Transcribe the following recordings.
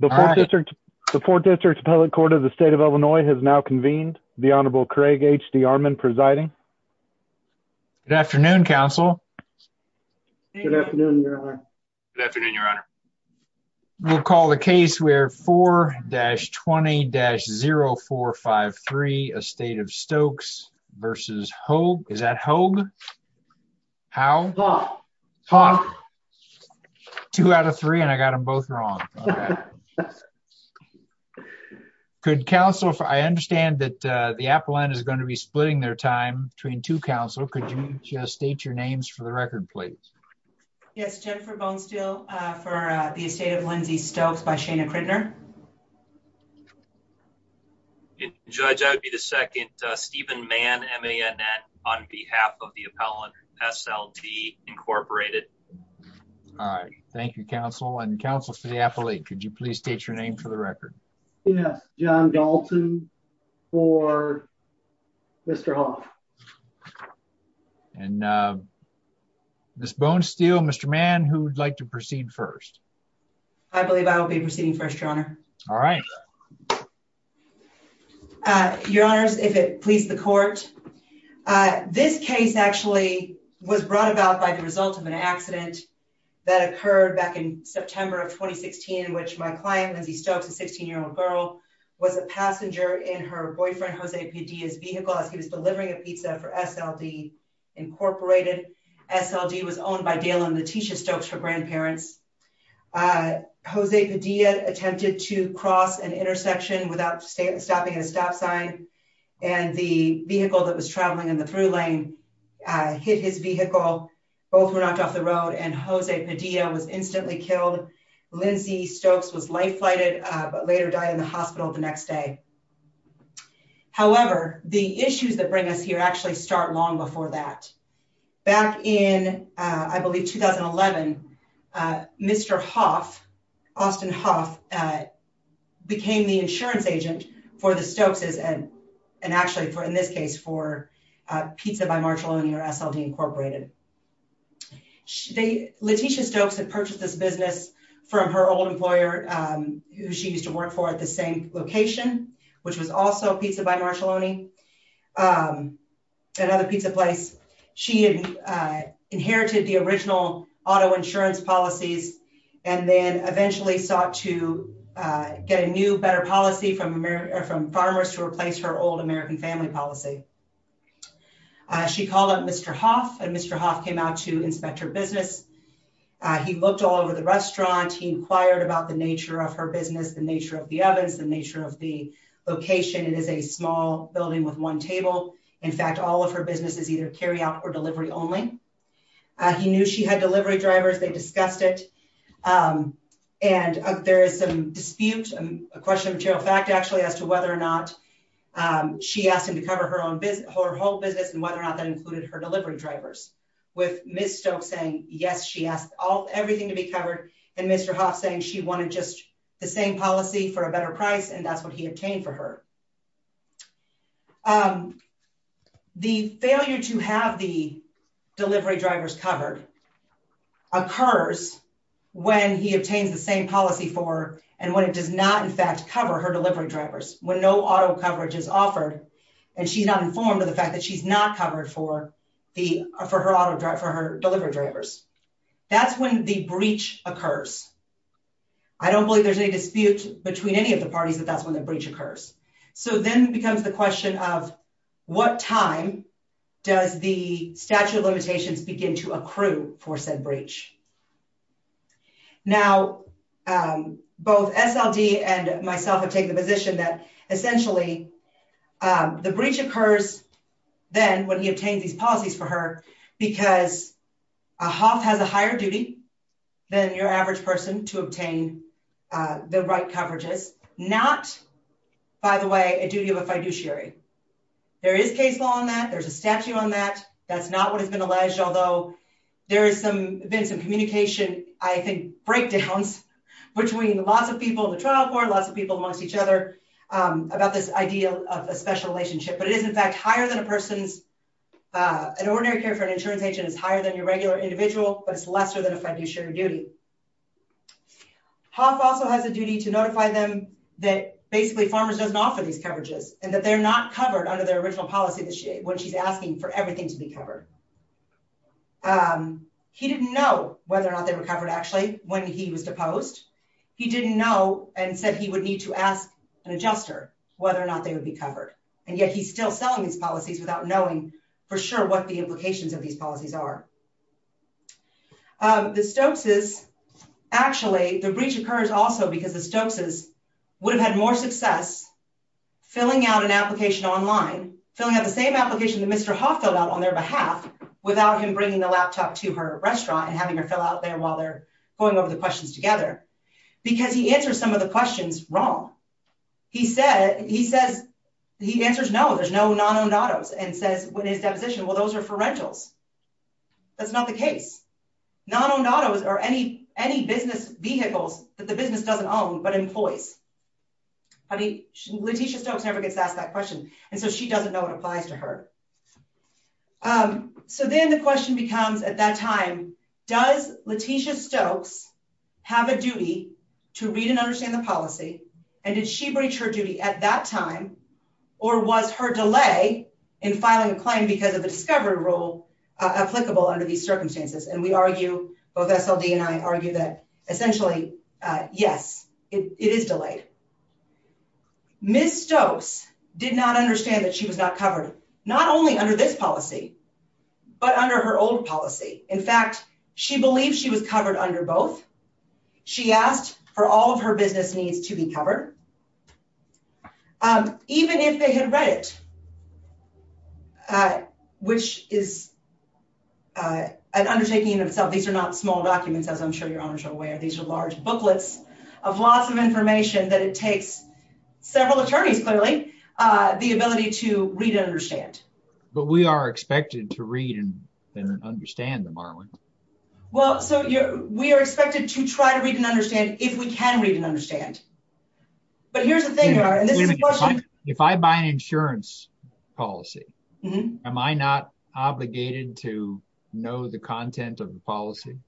The 4th District's Public Court of the State of Illinois has now convened, the Honorable Craig H. D'Armond presiding. Good afternoon, counsel. Good afternoon, your honor. Good afternoon, your honor. We'll call the case where 4-20-0453, Estate of Stokes v. Hogue. Is that Hogue? How? Hogue. Hogue. Two out of three and I got them both wrong. Could counsel, I understand that the appellant is going to be splitting their time between two counsel. Could you state your names for the record, please? Yes, Jennifer Bonesteel for the Estate of Lindsay Stokes by Shana Crittner. Judge, I would be the second. Stephen Mann, M-A-N-N, on behalf of the appellant, S-L-T, Incorporated. All right. Thank you, counsel. And counsel for the appellate, could you please state your name for the record? Yes, John Dalton for Mr. Hogue. And Ms. Bonesteel, Mr. Mann, who would like to proceed first? I believe I will be proceeding first, Your Honor. All right. Your Honors, if it please the court, this case actually was brought about by the result of an accident that occurred back in September of 2016, in which my client, Lindsay Stokes, a 16-year-old girl, was a passenger in her boyfriend, Jose Padilla's vehicle as he was delivering a pizza for SLD, Incorporated. SLD was owned by Dale and Leticia Stokes for grandparents. Jose Padilla attempted to cross an intersection without stopping at a stop sign, and the vehicle that was traveling in the through lane hit his vehicle. Both were knocked off the road, and Jose Padilla was instantly killed. Lindsay Stokes was life-flighted, but later died in the hospital the next day. However, the issues that bring us here actually start long before that. Back in, I believe, 2011, Mr. Hoff, Austin Hoff, became the insurance agent for the Stokes' and actually, in this case, for Pizza by Marjolini or SLD, Incorporated. Leticia Stokes had purchased this business from her old employer, who she used to work for at the same location, which was also Pizza by Marjolini, another pizza place. She had inherited the original auto insurance policies and then eventually sought to get a new, better policy from farmers to replace her old American family policy. She called up Mr. Hoff, and Mr. Hoff came out to inspect her business. He looked all over the restaurant. He inquired about the nature of her business, the nature of the ovens, the nature of the location. It is a small building with one table. In fact, all of her business is either carryout or delivery only. He knew she had delivery drivers. They discussed it. There is some dispute, a question of material fact, actually, as to whether or not she asked him to cover her whole business and whether or not that included her delivery drivers. With Ms. Stokes saying, yes, she asked everything to be covered, and Mr. Hoff saying she wanted just the same policy for a better price, and that's what he obtained for her. The failure to have the delivery drivers covered occurs when he obtains the same policy for her and when it does not, in fact, cover her delivery drivers. When no auto coverage is offered and she's not informed of the fact that she's not covered for her delivery drivers. That's when the breach occurs. I don't believe there's any dispute between any of the parties that that's when the breach occurs. So then becomes the question of what time does the statute of limitations begin to accrue for said breach? Now, both SLD and myself have taken the position that essentially the breach occurs then when he obtains these policies for her because a Hoff has a higher duty than your average person to obtain the right coverages, not, by the way, a duty of a fiduciary. There is case law on that. There's a statute on that. That's not what has been alleged, although there has been some communication, I think, breakdowns between lots of people in the trial court, lots of people amongst each other about this idea of a special relationship. But it is, in fact, higher than a person's. An ordinary care for an insurance agent is higher than your regular individual, but it's lesser than a fiduciary duty. Hoff also has a duty to notify them that basically Farmers doesn't offer these coverages and that they're not covered under their original policy when she's asking for everything to be covered. He didn't know whether or not they were covered, actually, when he was deposed. He didn't know and said he would need to ask an adjuster whether or not they would be covered. And yet he's still selling these policies without knowing for sure what the implications of these policies are. The Stokeses, actually, the breach occurs also because the Stokeses would have had more success filling out an application online, filling out the same application that Mr. Hoff filled out on their behalf without him bringing the laptop to her restaurant and having her fill out there while they're going over the questions together, because he answers some of the questions wrong. He answers no, there's no non-owned autos, and says when he's depositioned, well, those are for rentals. That's not the case. Non-owned autos are any business vehicles that the business doesn't own but employs. Letitia Stokes never gets asked that question, and so she doesn't know what applies to her. So then the question becomes, at that time, does Letitia Stokes have a duty to read and understand the policy, and did she breach her duty at that time, or was her delay in filing a claim because of the discovery rule applicable under these circumstances? And we argue, both SLD and I argue that, essentially, yes, it is delayed. Ms. Stokes did not understand that she was not covered, not only under this policy, but under her old policy. In fact, she believed she was covered under both. She asked for all of her business needs to be covered, even if they had read it, which is an undertaking in itself. These are not small documents, as I'm sure your owners are aware. These are large booklets of lots of information that it takes several attorneys, clearly, the ability to read and understand. But we are expected to read and understand them, aren't we? Well, so we are expected to try to read and understand if we can read and understand. But here's the thing, Your Honor, and this is a question… If I buy an insurance policy, am I not obligated to know the content of the policy?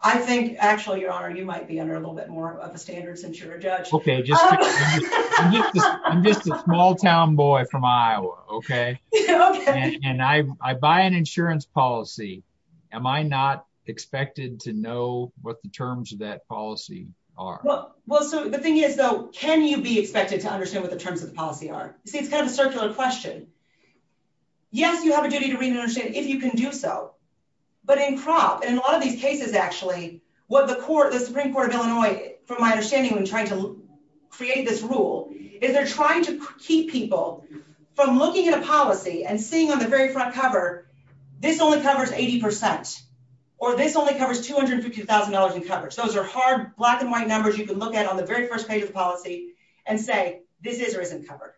I think, actually, Your Honor, you might be under a little bit more of a standard since you're a judge. Okay, I'm just a small-town boy from Iowa, okay? Okay. And I buy an insurance policy, am I not expected to know what the terms of that policy are? Well, so the thing is, though, can you be expected to understand what the terms of the policy are? See, it's kind of a circular question. Yes, you have a duty to read and understand if you can do so. But in CROP, and in a lot of these cases, actually, what the Supreme Court of Illinois, from my understanding when trying to create this rule, is they're trying to keep people from looking at a policy and seeing on the very front cover, this only covers 80 percent, or this only covers $250,000 in coverage. Those are hard black-and-white numbers you can look at on the very first page of the policy and say, this is or isn't covered.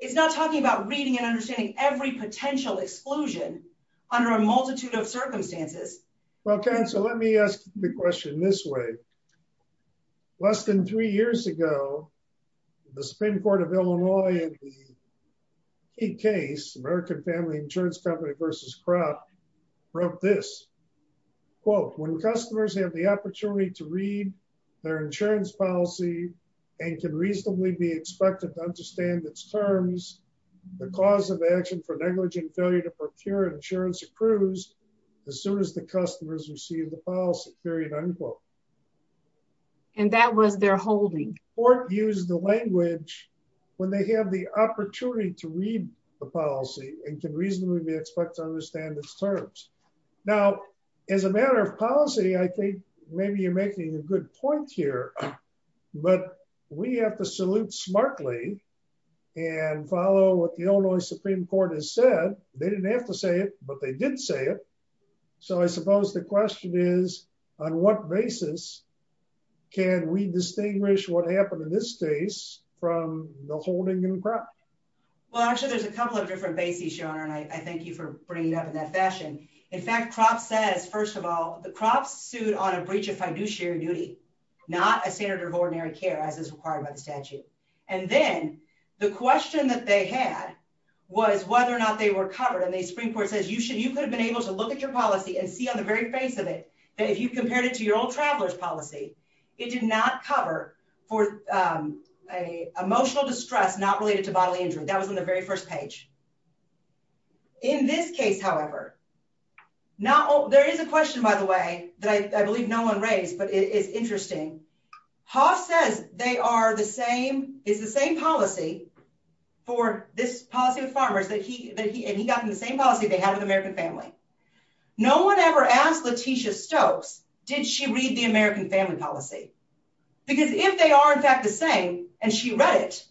It's not talking about reading and understanding every potential exclusion under a multitude of circumstances. Okay, so let me ask the question this way. Less than three years ago, the Supreme Court of Illinois in the case, American Family Insurance Company v. CROP, wrote this. Quote, when customers have the opportunity to read their insurance policy and can reasonably be expected to understand its terms, the cause of action for negligent failure to procure insurance approves as soon as the customers receive the policy, period, unquote. And that was their holding. The court used the language, when they have the opportunity to read the policy and can reasonably be expected to understand its terms. Now, as a matter of policy, I think maybe you're making a good point here, but we have to salute smartly and follow what the Illinois Supreme Court has said. They didn't have to say it, but they did say it. So I suppose the question is, on what basis can we distinguish what happened in this case from the holding in CROP? Well, actually, there's a couple of different bases, Shona, and I thank you for bringing it up in that fashion. In fact, CROP says, first of all, the CROP sued on a breach of fiduciary duty, not a standard of ordinary care as is required by the statute. And then the question that they had was whether or not they were covered. And the Supreme Court says, you could have been able to look at your policy and see on the very face of it that if you compared it to your old traveler's policy, it did not cover for emotional distress not related to bodily injury. That was on the very first page. In this case, however, there is a question, by the way, that I believe no one raised, but it is interesting. Hoff says they are the same, it's the same policy for this policy with farmers, and he got them the same policy they had with the American family. No one ever asked Letitia Stokes, did she read the American family policy? Because if they are, in fact, the same, and she read it,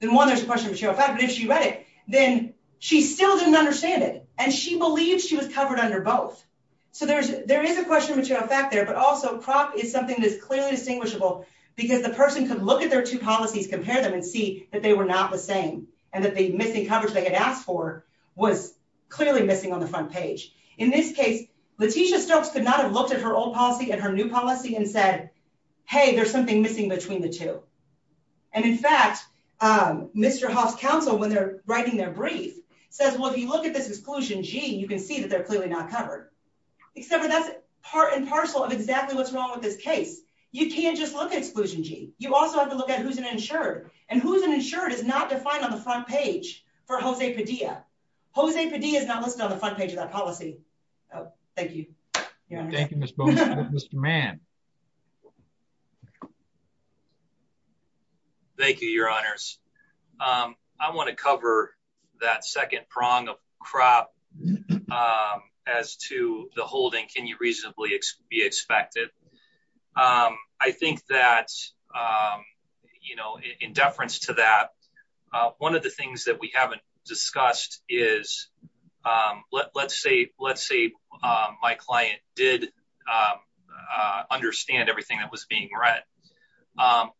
then one, there's a question of material fact, but if she read it, then she still didn't understand it. And she believes she was covered under both. So there is a question of material fact there, but also CROP is something that is clearly distinguishable, because the person could look at their two policies, compare them, and see that they were not the same, and that the missing coverage they had asked for was clearly missing on the front page. In this case, Letitia Stokes could not have looked at her old policy and her new policy and said, hey, there's something missing between the two. And, in fact, Mr. Hoff's counsel, when they're writing their brief, says, well, if you look at this exclusion G, you can see that they're clearly not covered. Except that's part and parcel of exactly what's wrong with this case. You can't just look at exclusion G. You also have to look at who's an insured, and who's an insured is not defined on the front page for Jose Padilla. Jose Padilla is not listed on the front page of that policy. Thank you. Thank you, Mr. Mann. Thank you, Your Honors. I want to cover that second prong of CROP. As to the holding, can you reasonably be expected? I think that, you know, in deference to that, one of the things that we haven't discussed is, let's say my client did understand everything that was being read.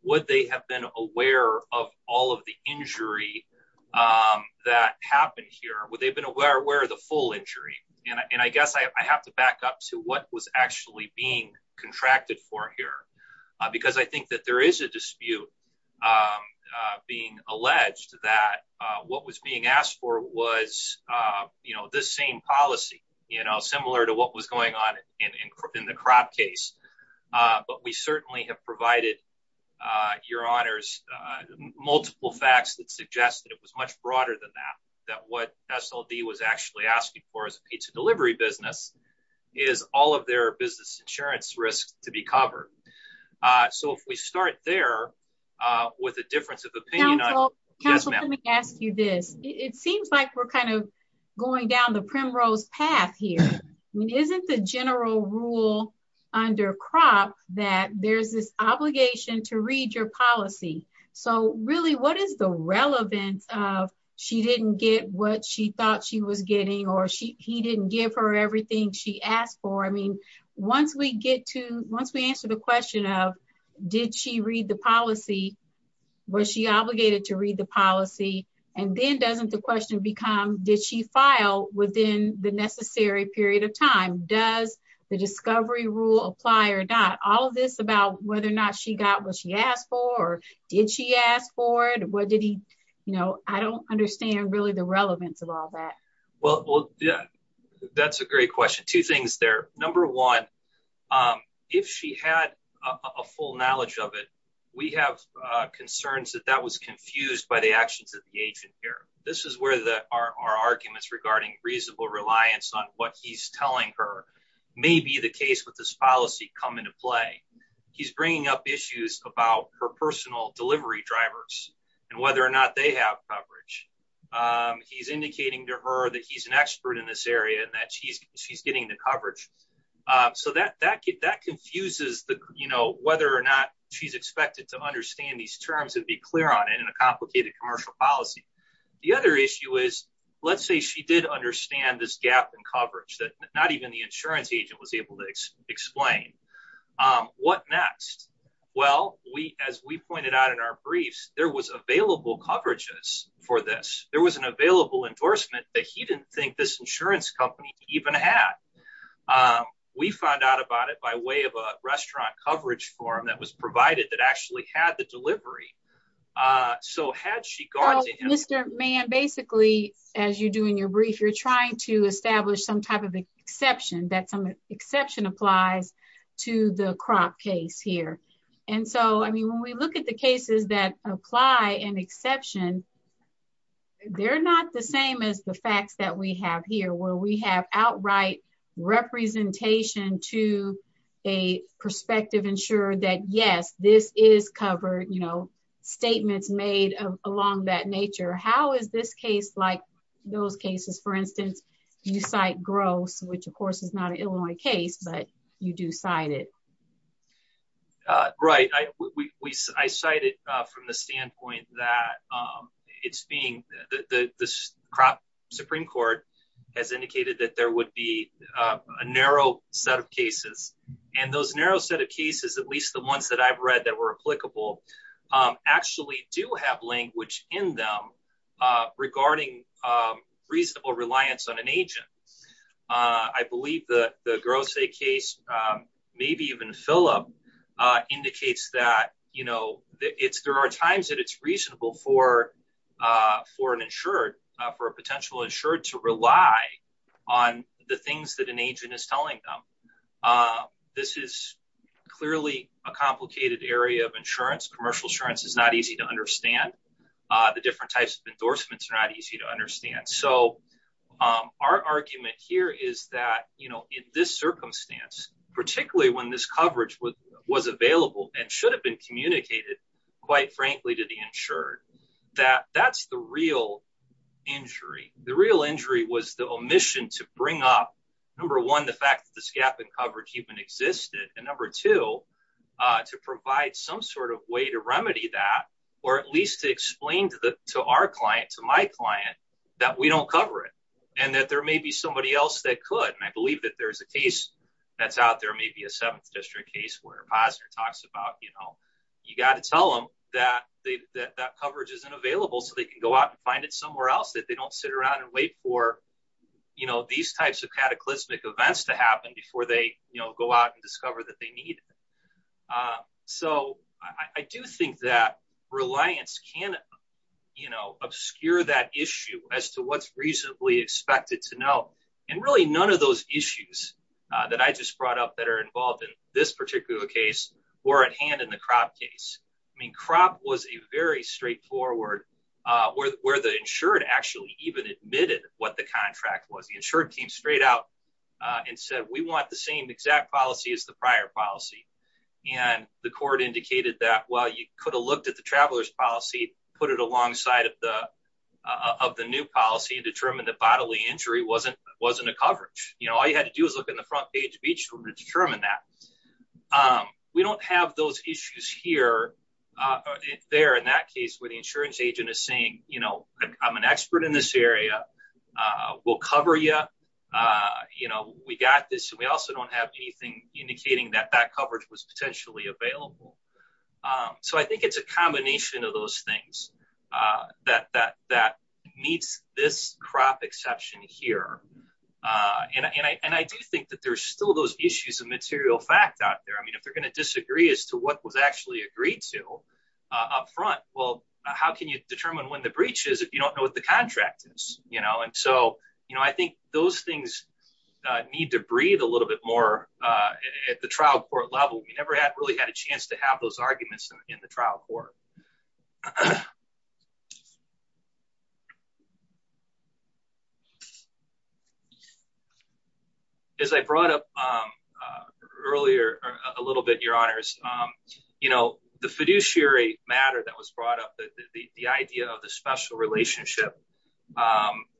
Would they have been aware of all of the injury that happened here? Would they have been aware of the full injury? And I guess I have to back up to what was actually being contracted for here. Because I think that there is a dispute being alleged that what was being asked for was, you know, the same policy, you know, similar to what was going on in the CROP case. But we certainly have provided, Your Honors, multiple facts that suggest that it was much broader than that. That what SLD was actually asking for as a pizza delivery business is all of their business insurance risks to be covered. So, if we start there with a difference of opinion. Counsel, let me ask you this. It seems like we're kind of going down the primrose path here. I mean, isn't the general rule under CROP that there's this obligation to read your policy? So, really, what is the relevance of she didn't get what she thought she was getting or he didn't give her everything she asked for? I mean, once we get to, once we answer the question of, did she read the policy, was she obligated to read the policy? And then doesn't the question become, did she file within the necessary period of time? Does the discovery rule apply or not? All of this about whether or not she got what she asked for or did she ask for it? What did he, you know, I don't understand really the relevance of all that. Well, yeah, that's a great question. Two things there. Number one, if she had a full knowledge of it, we have concerns that that was confused by the actions of the agent here. This is where our arguments regarding reasonable reliance on what he's telling her may be the case with this policy come into play. He's bringing up issues about her personal delivery drivers and whether or not they have coverage. He's indicating to her that he's an expert in this area and that she's she's getting the coverage. So that that that confuses the you know, whether or not she's expected to understand these terms and be clear on it in a complicated commercial policy. The other issue is, let's say she did understand this gap in coverage that not even the insurance agent was able to explain. What next? Well, we as we pointed out in our briefs, there was available coverages for this. There was an available endorsement that he didn't think this insurance company even had. We found out about it by way of a restaurant coverage form that was provided that actually had the delivery. So had she gone to Mr. Mann, basically, as you do in your brief, you're trying to establish some type of exception that some exception applies to the crop case here. And so, I mean, when we look at the cases that apply and exception. They're not the same as the facts that we have here, where we have outright representation to a perspective, ensure that, yes, this is covered, you know, statements made along that nature. How is this case like those cases, for instance, you cite gross, which, of course, is not an Illinois case, but you do cite it. Right. I cited from the standpoint that it's being the Supreme Court has indicated that there would be a narrow set of cases. And those narrow set of cases, at least the ones that I've read that were applicable, actually do have language in them regarding reasonable reliance on an agent. I believe the gross a case, maybe even fill up indicates that, you know, it's there are times that it's reasonable for for an insured for a potential insured to rely on the things that an agent is telling them. This is clearly a complicated area of insurance. Commercial insurance is not easy to understand. The different types of endorsements are not easy to understand. So our argument here is that, you know, in this circumstance, particularly when this coverage was available and should have been communicated, quite frankly, to the insured, that that's the real injury. The real injury was the omission to bring up, number one, the fact that this gap in coverage even existed. And number two, to provide some sort of way to remedy that, or at least to explain to our client, to my client, that we don't cover it and that there may be somebody else that could. And I believe that there is a case that's out there, maybe a seventh district case where a positive talks about, you know, you got to tell them that they that that coverage isn't available so they can go out and find it somewhere else that they don't sit around and wait for, you know, these types of cataclysmic events to happen before they go out and discover that they need. So I do think that reliance can, you know, obscure that issue as to what's reasonably expected to know. And really, none of those issues that I just brought up that are involved in this particular case were at hand in the crop case. I mean, crop was a very straightforward, where the insured actually even admitted what the contract was. The insured came straight out and said, we want the same exact policy as the prior policy. And the court indicated that, well, you could have looked at the traveler's policy, put it alongside of the of the new policy and determined that bodily injury wasn't wasn't a coverage. You know, all you had to do is look in the front page of each to determine that. We don't have those issues here. They're in that case where the insurance agent is saying, you know, I'm an expert in this area. We'll cover you. You know, we got this. We also don't have anything indicating that that coverage was potentially available. So I think it's a combination of those things that that that meets this crop exception here. And I do think that there's still those issues of material fact out there. I mean, if they're going to disagree as to what was actually agreed to up front. Well, how can you determine when the breach is if you don't know what the contract is? You know, and so, you know, I think those things need to breathe a little bit more at the trial court level. We never had really had a chance to have those arguments in the trial court. As I brought up earlier a little bit, your honors, you know, the fiduciary matter that was brought up, the idea of the special relationship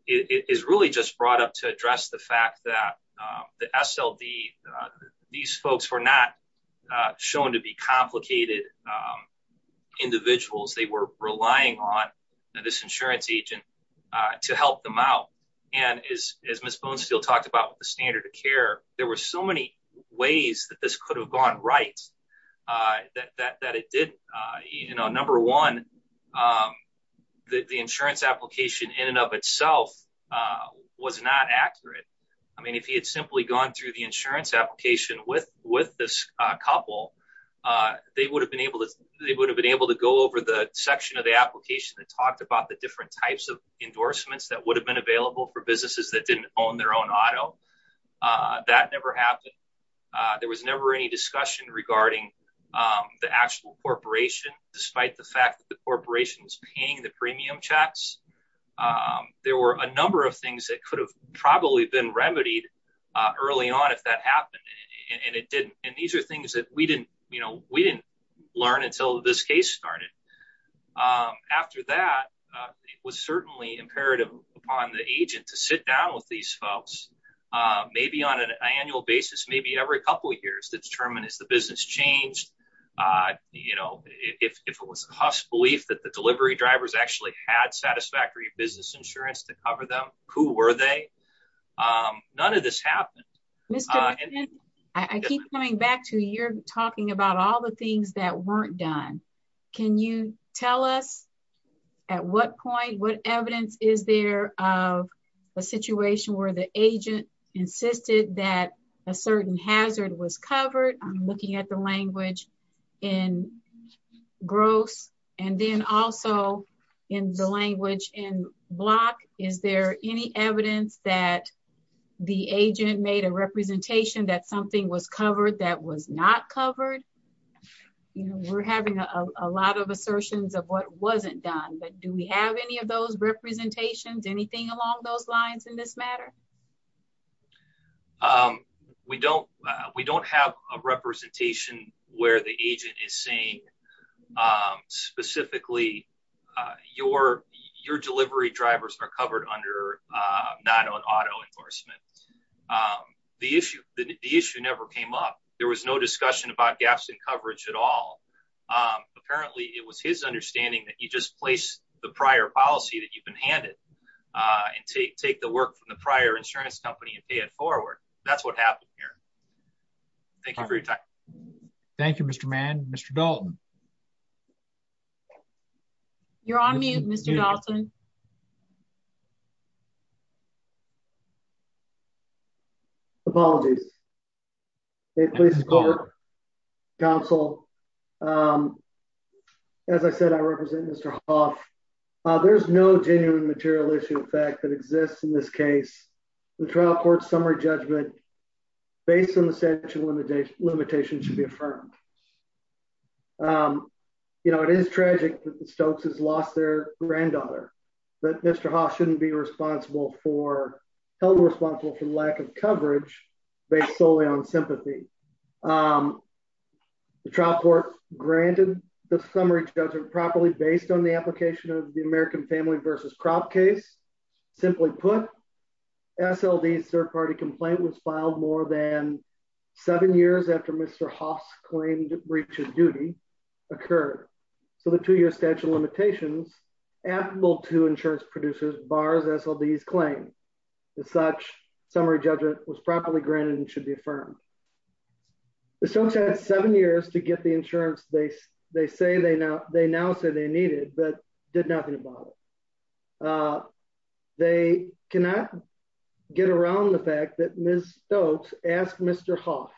is really just brought up to address the fact that the SLD, these folks were not shown to be complicated individuals. They were relying on this insurance agent to help them out. And as Ms. Bonesteel talked about the standard of care, there were so many ways that this could have gone right that it did. You know, number one, the insurance application in and of itself was not accurate. I mean, if he had simply gone through the insurance application with with this couple, they would have been able to they would have been able to go over the section of the application that talked about the different types of endorsements that would have been available for businesses that didn't own their own auto. That never happened. There was never any discussion regarding the actual corporation, despite the fact that the corporation's paying the premium checks. There were a number of things that could have probably been remedied early on if that happened. And it didn't. And these are things that we didn't you know, we didn't learn until this case started. After that, it was certainly imperative upon the agent to sit down with these folks, maybe on an annual basis, maybe every couple of years to determine is the business changed. You know, if it was a belief that the delivery drivers actually had satisfactory business insurance to cover them. Who were they? None of this happened. I keep coming back to your talking about all the things that weren't done. Can you tell us at what point what evidence is there of a situation where the agent insisted that a certain hazard was covered? I'm looking at the language in gross and then also in the language in block. Is there any evidence that the agent made a representation that something was covered that was not covered? We're having a lot of assertions of what wasn't done. But do we have any of those representations, anything along those lines in this matter? We don't we don't have a representation where the agent is saying specifically your your delivery drivers are covered under not on auto enforcement. The issue the issue never came up. There was no discussion about gaps in coverage at all. Apparently, it was his understanding that you just place the prior policy that you can hand it and take the work from the prior insurance company and pay it forward. That's what happened here. Thank you for your time. Thank you, Mr. Mann. Mr. Dalton. You're on mute, Mr. Dalton. Apologies. Please call her counsel. As I said, I represent Mr. Hoff. There's no genuine material issue of fact that exists in this case. The trial court summary judgment based on the central limitation limitation should be affirmed. You know, it is tragic that the Stokes has lost their granddaughter. But Mr. Hoff shouldn't be responsible for held responsible for lack of coverage based solely on sympathy. The trial court granted the summary judgment properly based on the application of the American family versus crop case. Simply put, SLD third party complaint was filed more than seven years after Mr. Hoff's claimed breach of duty occurred. So the two year statute of limitations, and will to insurance producers bars SLDs claim. The such summary judgment was properly granted and should be affirmed. The Stokes had seven years to get the insurance base. They say they now they now say they needed but did nothing about it. They cannot get around the fact that Ms. Stokes asked Mr. Hoff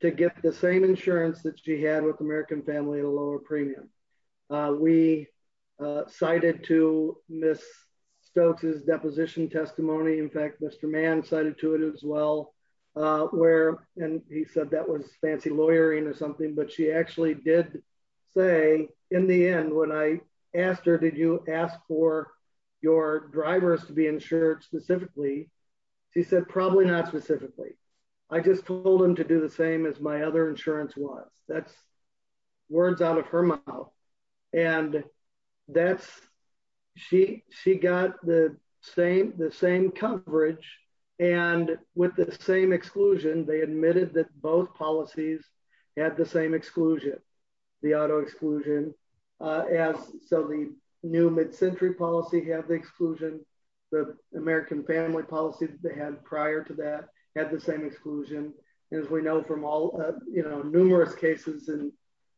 to get the same insurance that she had with American family, a lower premium. We cited to miss Stokes is deposition testimony in fact Mr man cited to it as well, where, and he said that was fancy lawyering or something but she actually did say, in the end when I asked her Did you ask for your drivers to be insured specifically. She said probably not specifically. I just told him to do the same as my other insurance was that's words out of her mouth. And that's, she, she got the same the same coverage, and with the same exclusion they admitted that both policies at the same exclusion, the auto exclusion. As so the new mid century policy have the exclusion, the American family policies, they had prior to that had the same exclusion, as we know from all, you know, numerous cases and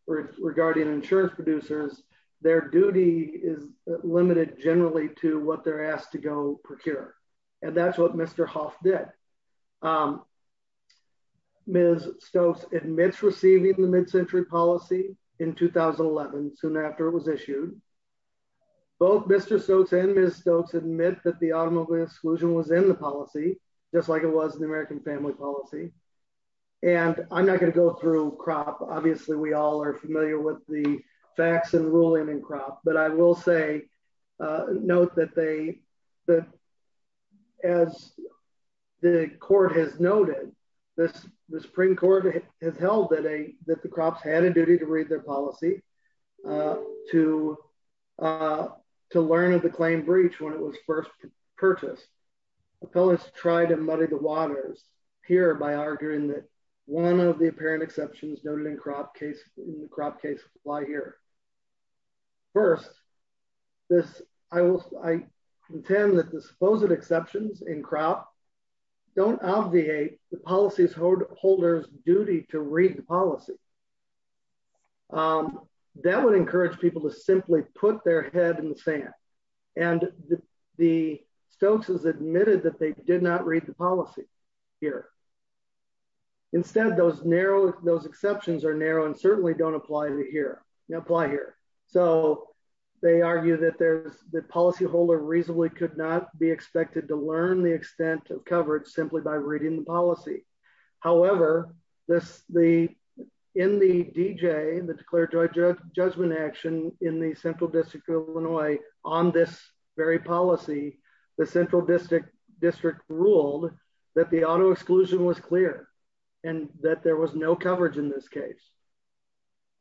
regarding insurance producers, their duty is limited generally to what they're asked to go procure. And that's what Mr Hoff did Ms. Stokes admits receiving the mid century policy in 2011 soon after it was issued. Both Mr Stokes and Ms Stokes admit that the automobile exclusion was in the policy, just like it was an American family policy. And I'm not going to go through crop obviously we all are familiar with the facts and ruling and crop, but I will say. Note that they that as the court has noted this, the Supreme Court has held that a that the crops had a duty to read their policy to to learn of the claim breach when it was first purchase. Appellants try to muddy the waters here by arguing that one of the apparent exceptions noted in crop case, crop case apply here. First, this, I will, I intend that the supposed exceptions in crop don't obviate the policies holders duty to read the policy. That would encourage people to simply put their head in the sand and the Stokes has admitted that they did not read the policy here. Instead, those narrow those exceptions are narrow and certainly don't apply to here, apply here. So they argue that there's the policy holder reasonably could not be expected to learn the extent of coverage simply by reading the policy. However, this the in the DJ the declared judge judgment action in the central district of Illinois, on this very policy, the central district district ruled that the auto exclusion was clear, and that there was no coverage in this case.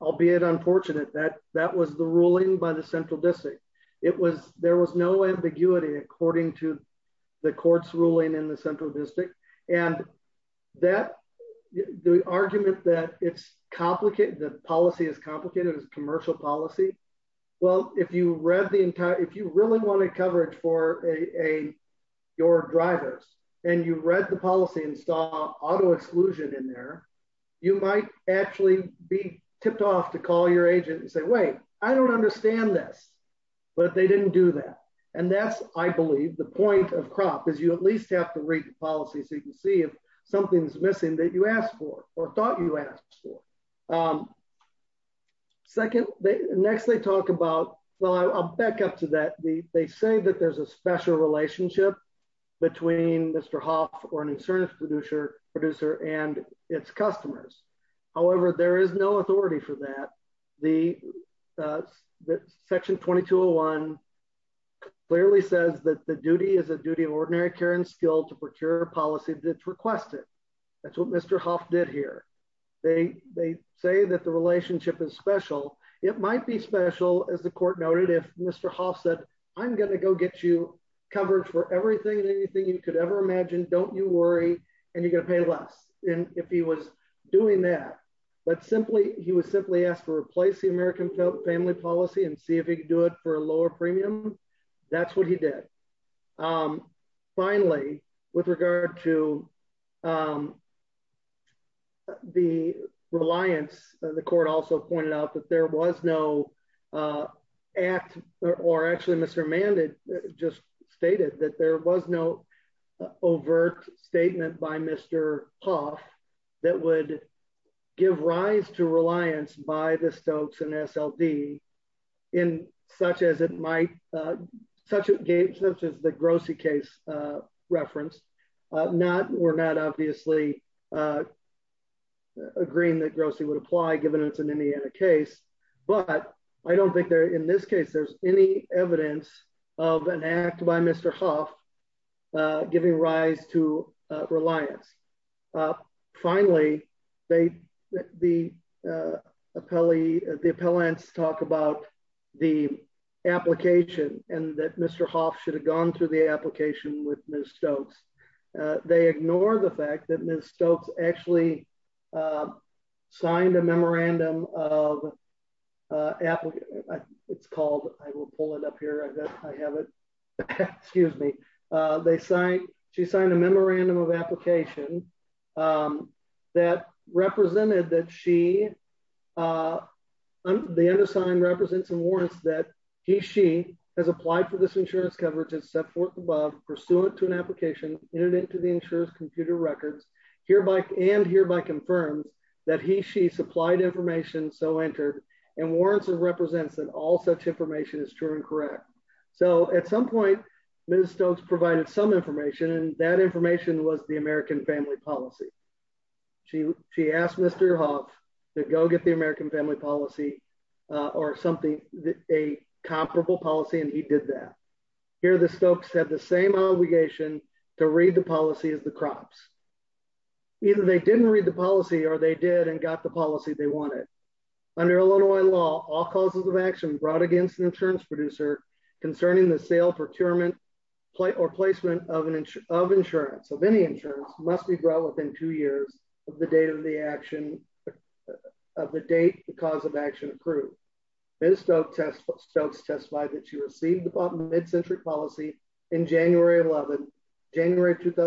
Albeit unfortunate that that was the ruling by the central district. It was, there was no ambiguity, according to the courts ruling in the central district, and that the argument that it's complicated the policy is complicated as commercial policy. Well, if you read the entire if you really want to coverage for a your drivers and you read the policy install auto exclusion in there. You might actually be tipped off to call your agent and say, wait, I don't understand this. But they didn't do that. And that's, I believe the point of crop is you at least have to read the policy so you can see if something's missing that you asked for, or thought you asked for. Second, they next they talk about, well I'll back up to that the they say that there's a special relationship between Mr Hoff or an insurance producer producer and its customers. However, there is no authority for that. The. Section 2201 clearly says that the duty is a duty of ordinary care and skill to procure policy that's requested. That's what Mr Hoff did here. They, they say that the relationship is special. It might be special as the court noted if Mr Hoff said, I'm going to go get you covered for everything anything you could ever imagine don't you worry, and you're gonna pay less, and if he was doing that, but he simply he was simply asked to replace the American family policy and see if he could do it for a lower premium. That's what he did. Finally, with regard to the reliance, the court also pointed out that there was no act, or actually Mr Amanda just stated that there was no overt statement by Mr. Hoff, that would give rise to reliance by the Stokes and SLD in such as it might such a game such as the grossie case reference, not we're not obviously agreeing that gross he would apply given it's an Indiana case, but I don't think they're in this case there's any evidence of an act by Mr. Giving rise to reliance. Finally, they, the appellee, the appellants talk about the application, and that Mr Hoff should have gone through the application with Miss Stokes. They ignore the fact that Miss Stokes actually signed a memorandum of application. It's called, I will pull it up here I have it. Excuse me. They say she signed a memorandum of application that represented that she. The end of sign represents and warrants that he she has applied for this insurance coverage and set forth above pursuant to an application into the insurance computer records hereby and hereby confirmed that he she supplied information so entered and warrants and represents that all such information is true and correct. So at some point, Miss Stokes provided some information and that information was the American family policy. She, she asked Mr. Hoff to go get the American family policy, or something that a comparable policy and he did that. Here the Stokes have the same obligation to read the policy is the crops. Either they didn't read the policy or they did and got the policy they wanted under Illinois law all causes of action brought against an insurance producer concerning the sale procurement plate or placement of an inch of insurance so many insurance must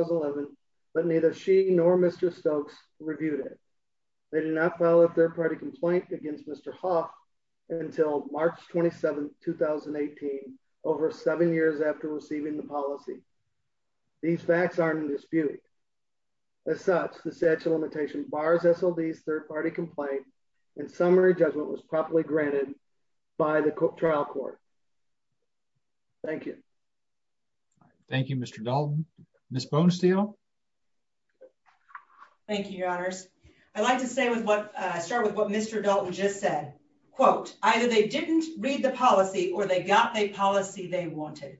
be neither she nor Mr. Stokes reviewed it. They did not follow up their party complaint against Mr. Ha until March 27 2018 over seven years after receiving the policy. These facts are in dispute. As such, the statute limitation bars SLD third party complaint and summary judgment was properly granted by the trial court. Thank you. Thank you, Mr. Miss bone steel. Thank you, Your Honors. I'd like to say with what started with what Mr. Dalton just said, quote, either they didn't read the policy or they got a policy they wanted.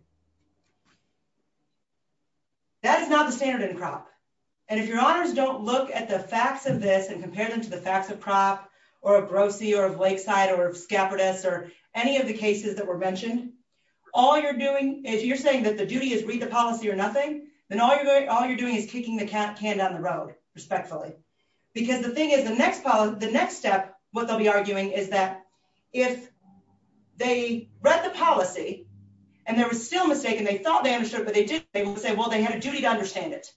That is not the standard in crop. And if your honors don't look at the facts of this and compare them to the facts of crop, or a grossie or of lakeside or of scabbard s or any of the cases that were mentioned. All you're doing is you're saying that the duty is read the policy or nothing, then all you're doing all you're doing is kicking the cat can down the road, respectfully, because the thing is the next part of the next step, what they'll be arguing is that if they read the policy. And there was still mistaken they thought they understood what they did, they will say well they had a duty to understand it.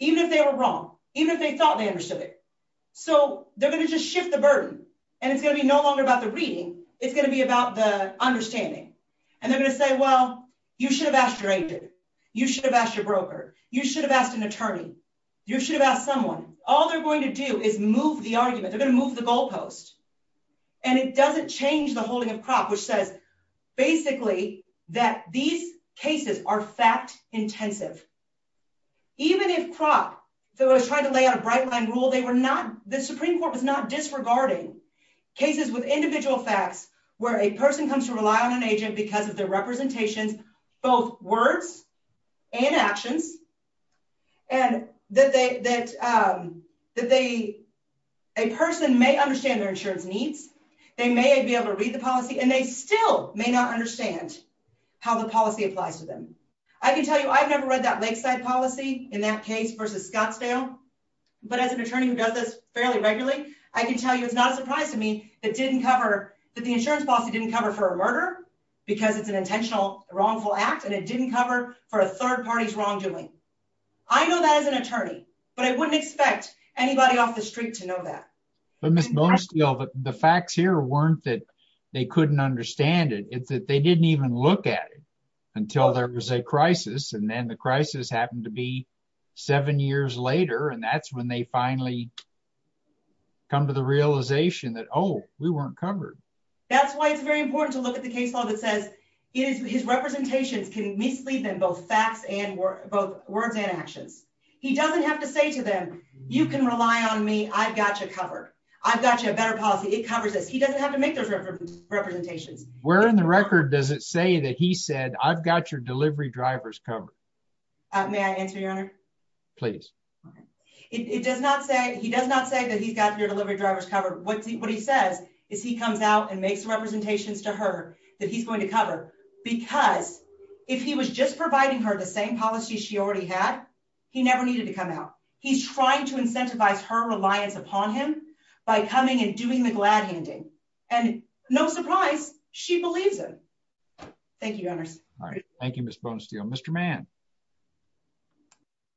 Even if they were wrong, even if they thought they understood it. So, they're going to just shift the burden, and it's going to be no longer about the reading, it's going to be about the understanding. And they're going to say, well, you should have asked your agent, you should have asked your broker, you should have asked an attorney, you should have asked someone, all they're going to do is move the argument they're going to move the goalpost. And it doesn't change the holding of crop which says, basically, that these cases are fact intensive. Even if crop, though I was trying to lay out a bright line rule they were not the Supreme Court was not disregarding cases with individual facts, where a person comes to rely on an agent because of their representations, both words and actions. And that they, a person may understand their insurance needs, they may be able to read the policy and they still may not understand how the policy applies to them. I can tell you I've never read that Lakeside policy in that case versus Scottsdale. But as an attorney who does this fairly regularly, I can tell you it's not a surprise to me that didn't cover that the insurance policy didn't cover for a murder, because it's an intentional wrongful act and it didn't cover for a third parties wrongdoing. I know that as an attorney, but I wouldn't expect anybody off the street to know that. But the facts here weren't that they couldn't understand it, it's that they didn't even look at it until there was a crisis and then the crisis happened to be seven years later and that's when they finally come to the realization that oh, we weren't covered. That's why it's very important to look at the case law that says it is his representations can mislead them both facts and both words and actions. He doesn't have to say to them, you can rely on me, I've got you covered. I've got you a better policy, it covers this, he doesn't have to make those representations. Where in the record does it say that he said I've got your delivery drivers covered? May I answer your honor? Please. It does not say he does not say that he's got your delivery drivers covered. What he says is he comes out and makes representations to her that he's going to cover, because if he was just providing her the same policy she already had. He never needed to come out. He's trying to incentivize her reliance upon him by coming and doing the glad handing, and no surprise, she believes it. Thank you. Thank you. Mr man.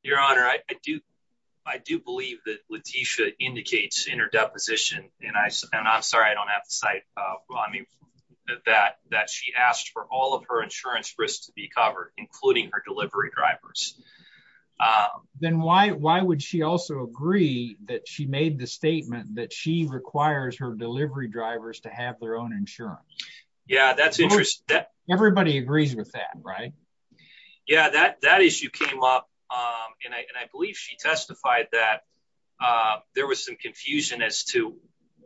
Your Honor, I do. I do believe that Latisha indicates in her deposition, and I, and I'm sorry I don't have the site. Well I mean that that she asked for all of her insurance risks to be covered, including her delivery drivers. Then why, why would she also agree that she made the statement that she requires her delivery drivers to have their own insurance. Yeah, that's interesting that everybody agrees with that right. Yeah, that that issue came up, and I believe she testified that there was some confusion as to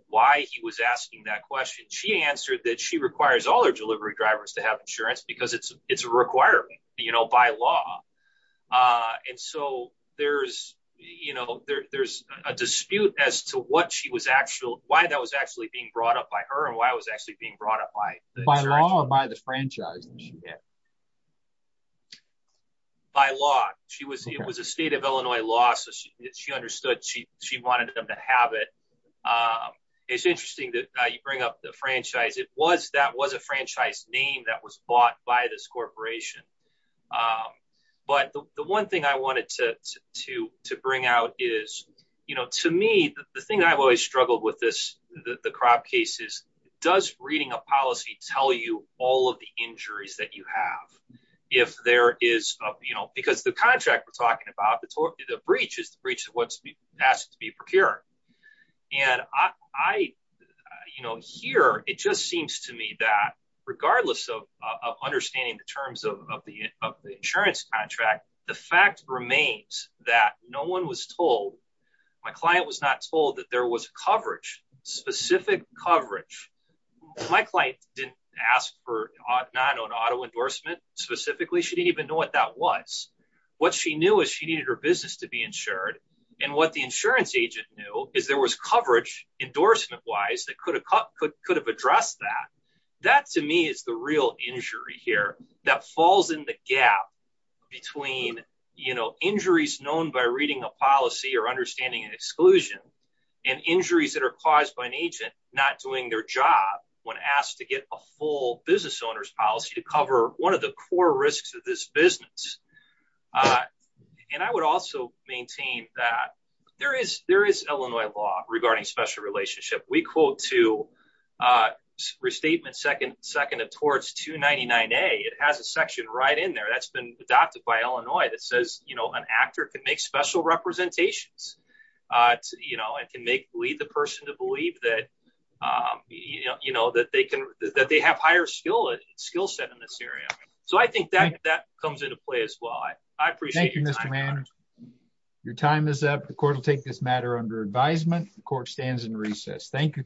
why he was asking that question she answered that she requires all their delivery drivers to have insurance because it's, it's a requirement, you know, by law. And so, there's, you know, there's a dispute as to what she was actual, why that was actually being brought up by her and why I was actually being brought up by, by law by the franchise. By law, she was, it was a state of Illinois law so she understood she, she wanted them to have it. It's interesting that you bring up the franchise it was that was a franchise name that was bought by this corporation. But the one thing I wanted to, to, to bring out is, you know, to me, the thing I've always struggled with this, the crop cases, does reading a policy tell you all of the injuries that you have. If there is, you know, because the contract we're talking about the, the breach is the breach of what's asked to be procured. And I, you know, here, it just seems to me that regardless of understanding the terms of the insurance contract. The fact remains that no one was told my client was not told that there was coverage specific coverage. My client didn't ask for an auto endorsement, specifically she didn't even know what that was. What she knew is she needed her business to be insured. And what the insurance agent knew is there was coverage endorsement wise that could have cut could could have addressed that. That to me is the real injury here that falls in the gap between, you know, injuries known by reading a policy or understanding exclusion and injuries that are caused by an agent, not doing their job. When asked to get a full business owners policy to cover one of the core risks of this business. And I would also maintain that there is there is Illinois law regarding special relationship we quote to restatement second second of towards 299 a it has a section right in there that's been adopted by Illinois that says, you know, an actor can make special representations, you know, I can make believe the person to believe that, you know, that they can that they have higher skill skill set in this area. So I think that that comes into play as well. I appreciate your time. Your time is up the court will take this matter under advisement court stands in recess. Thank you.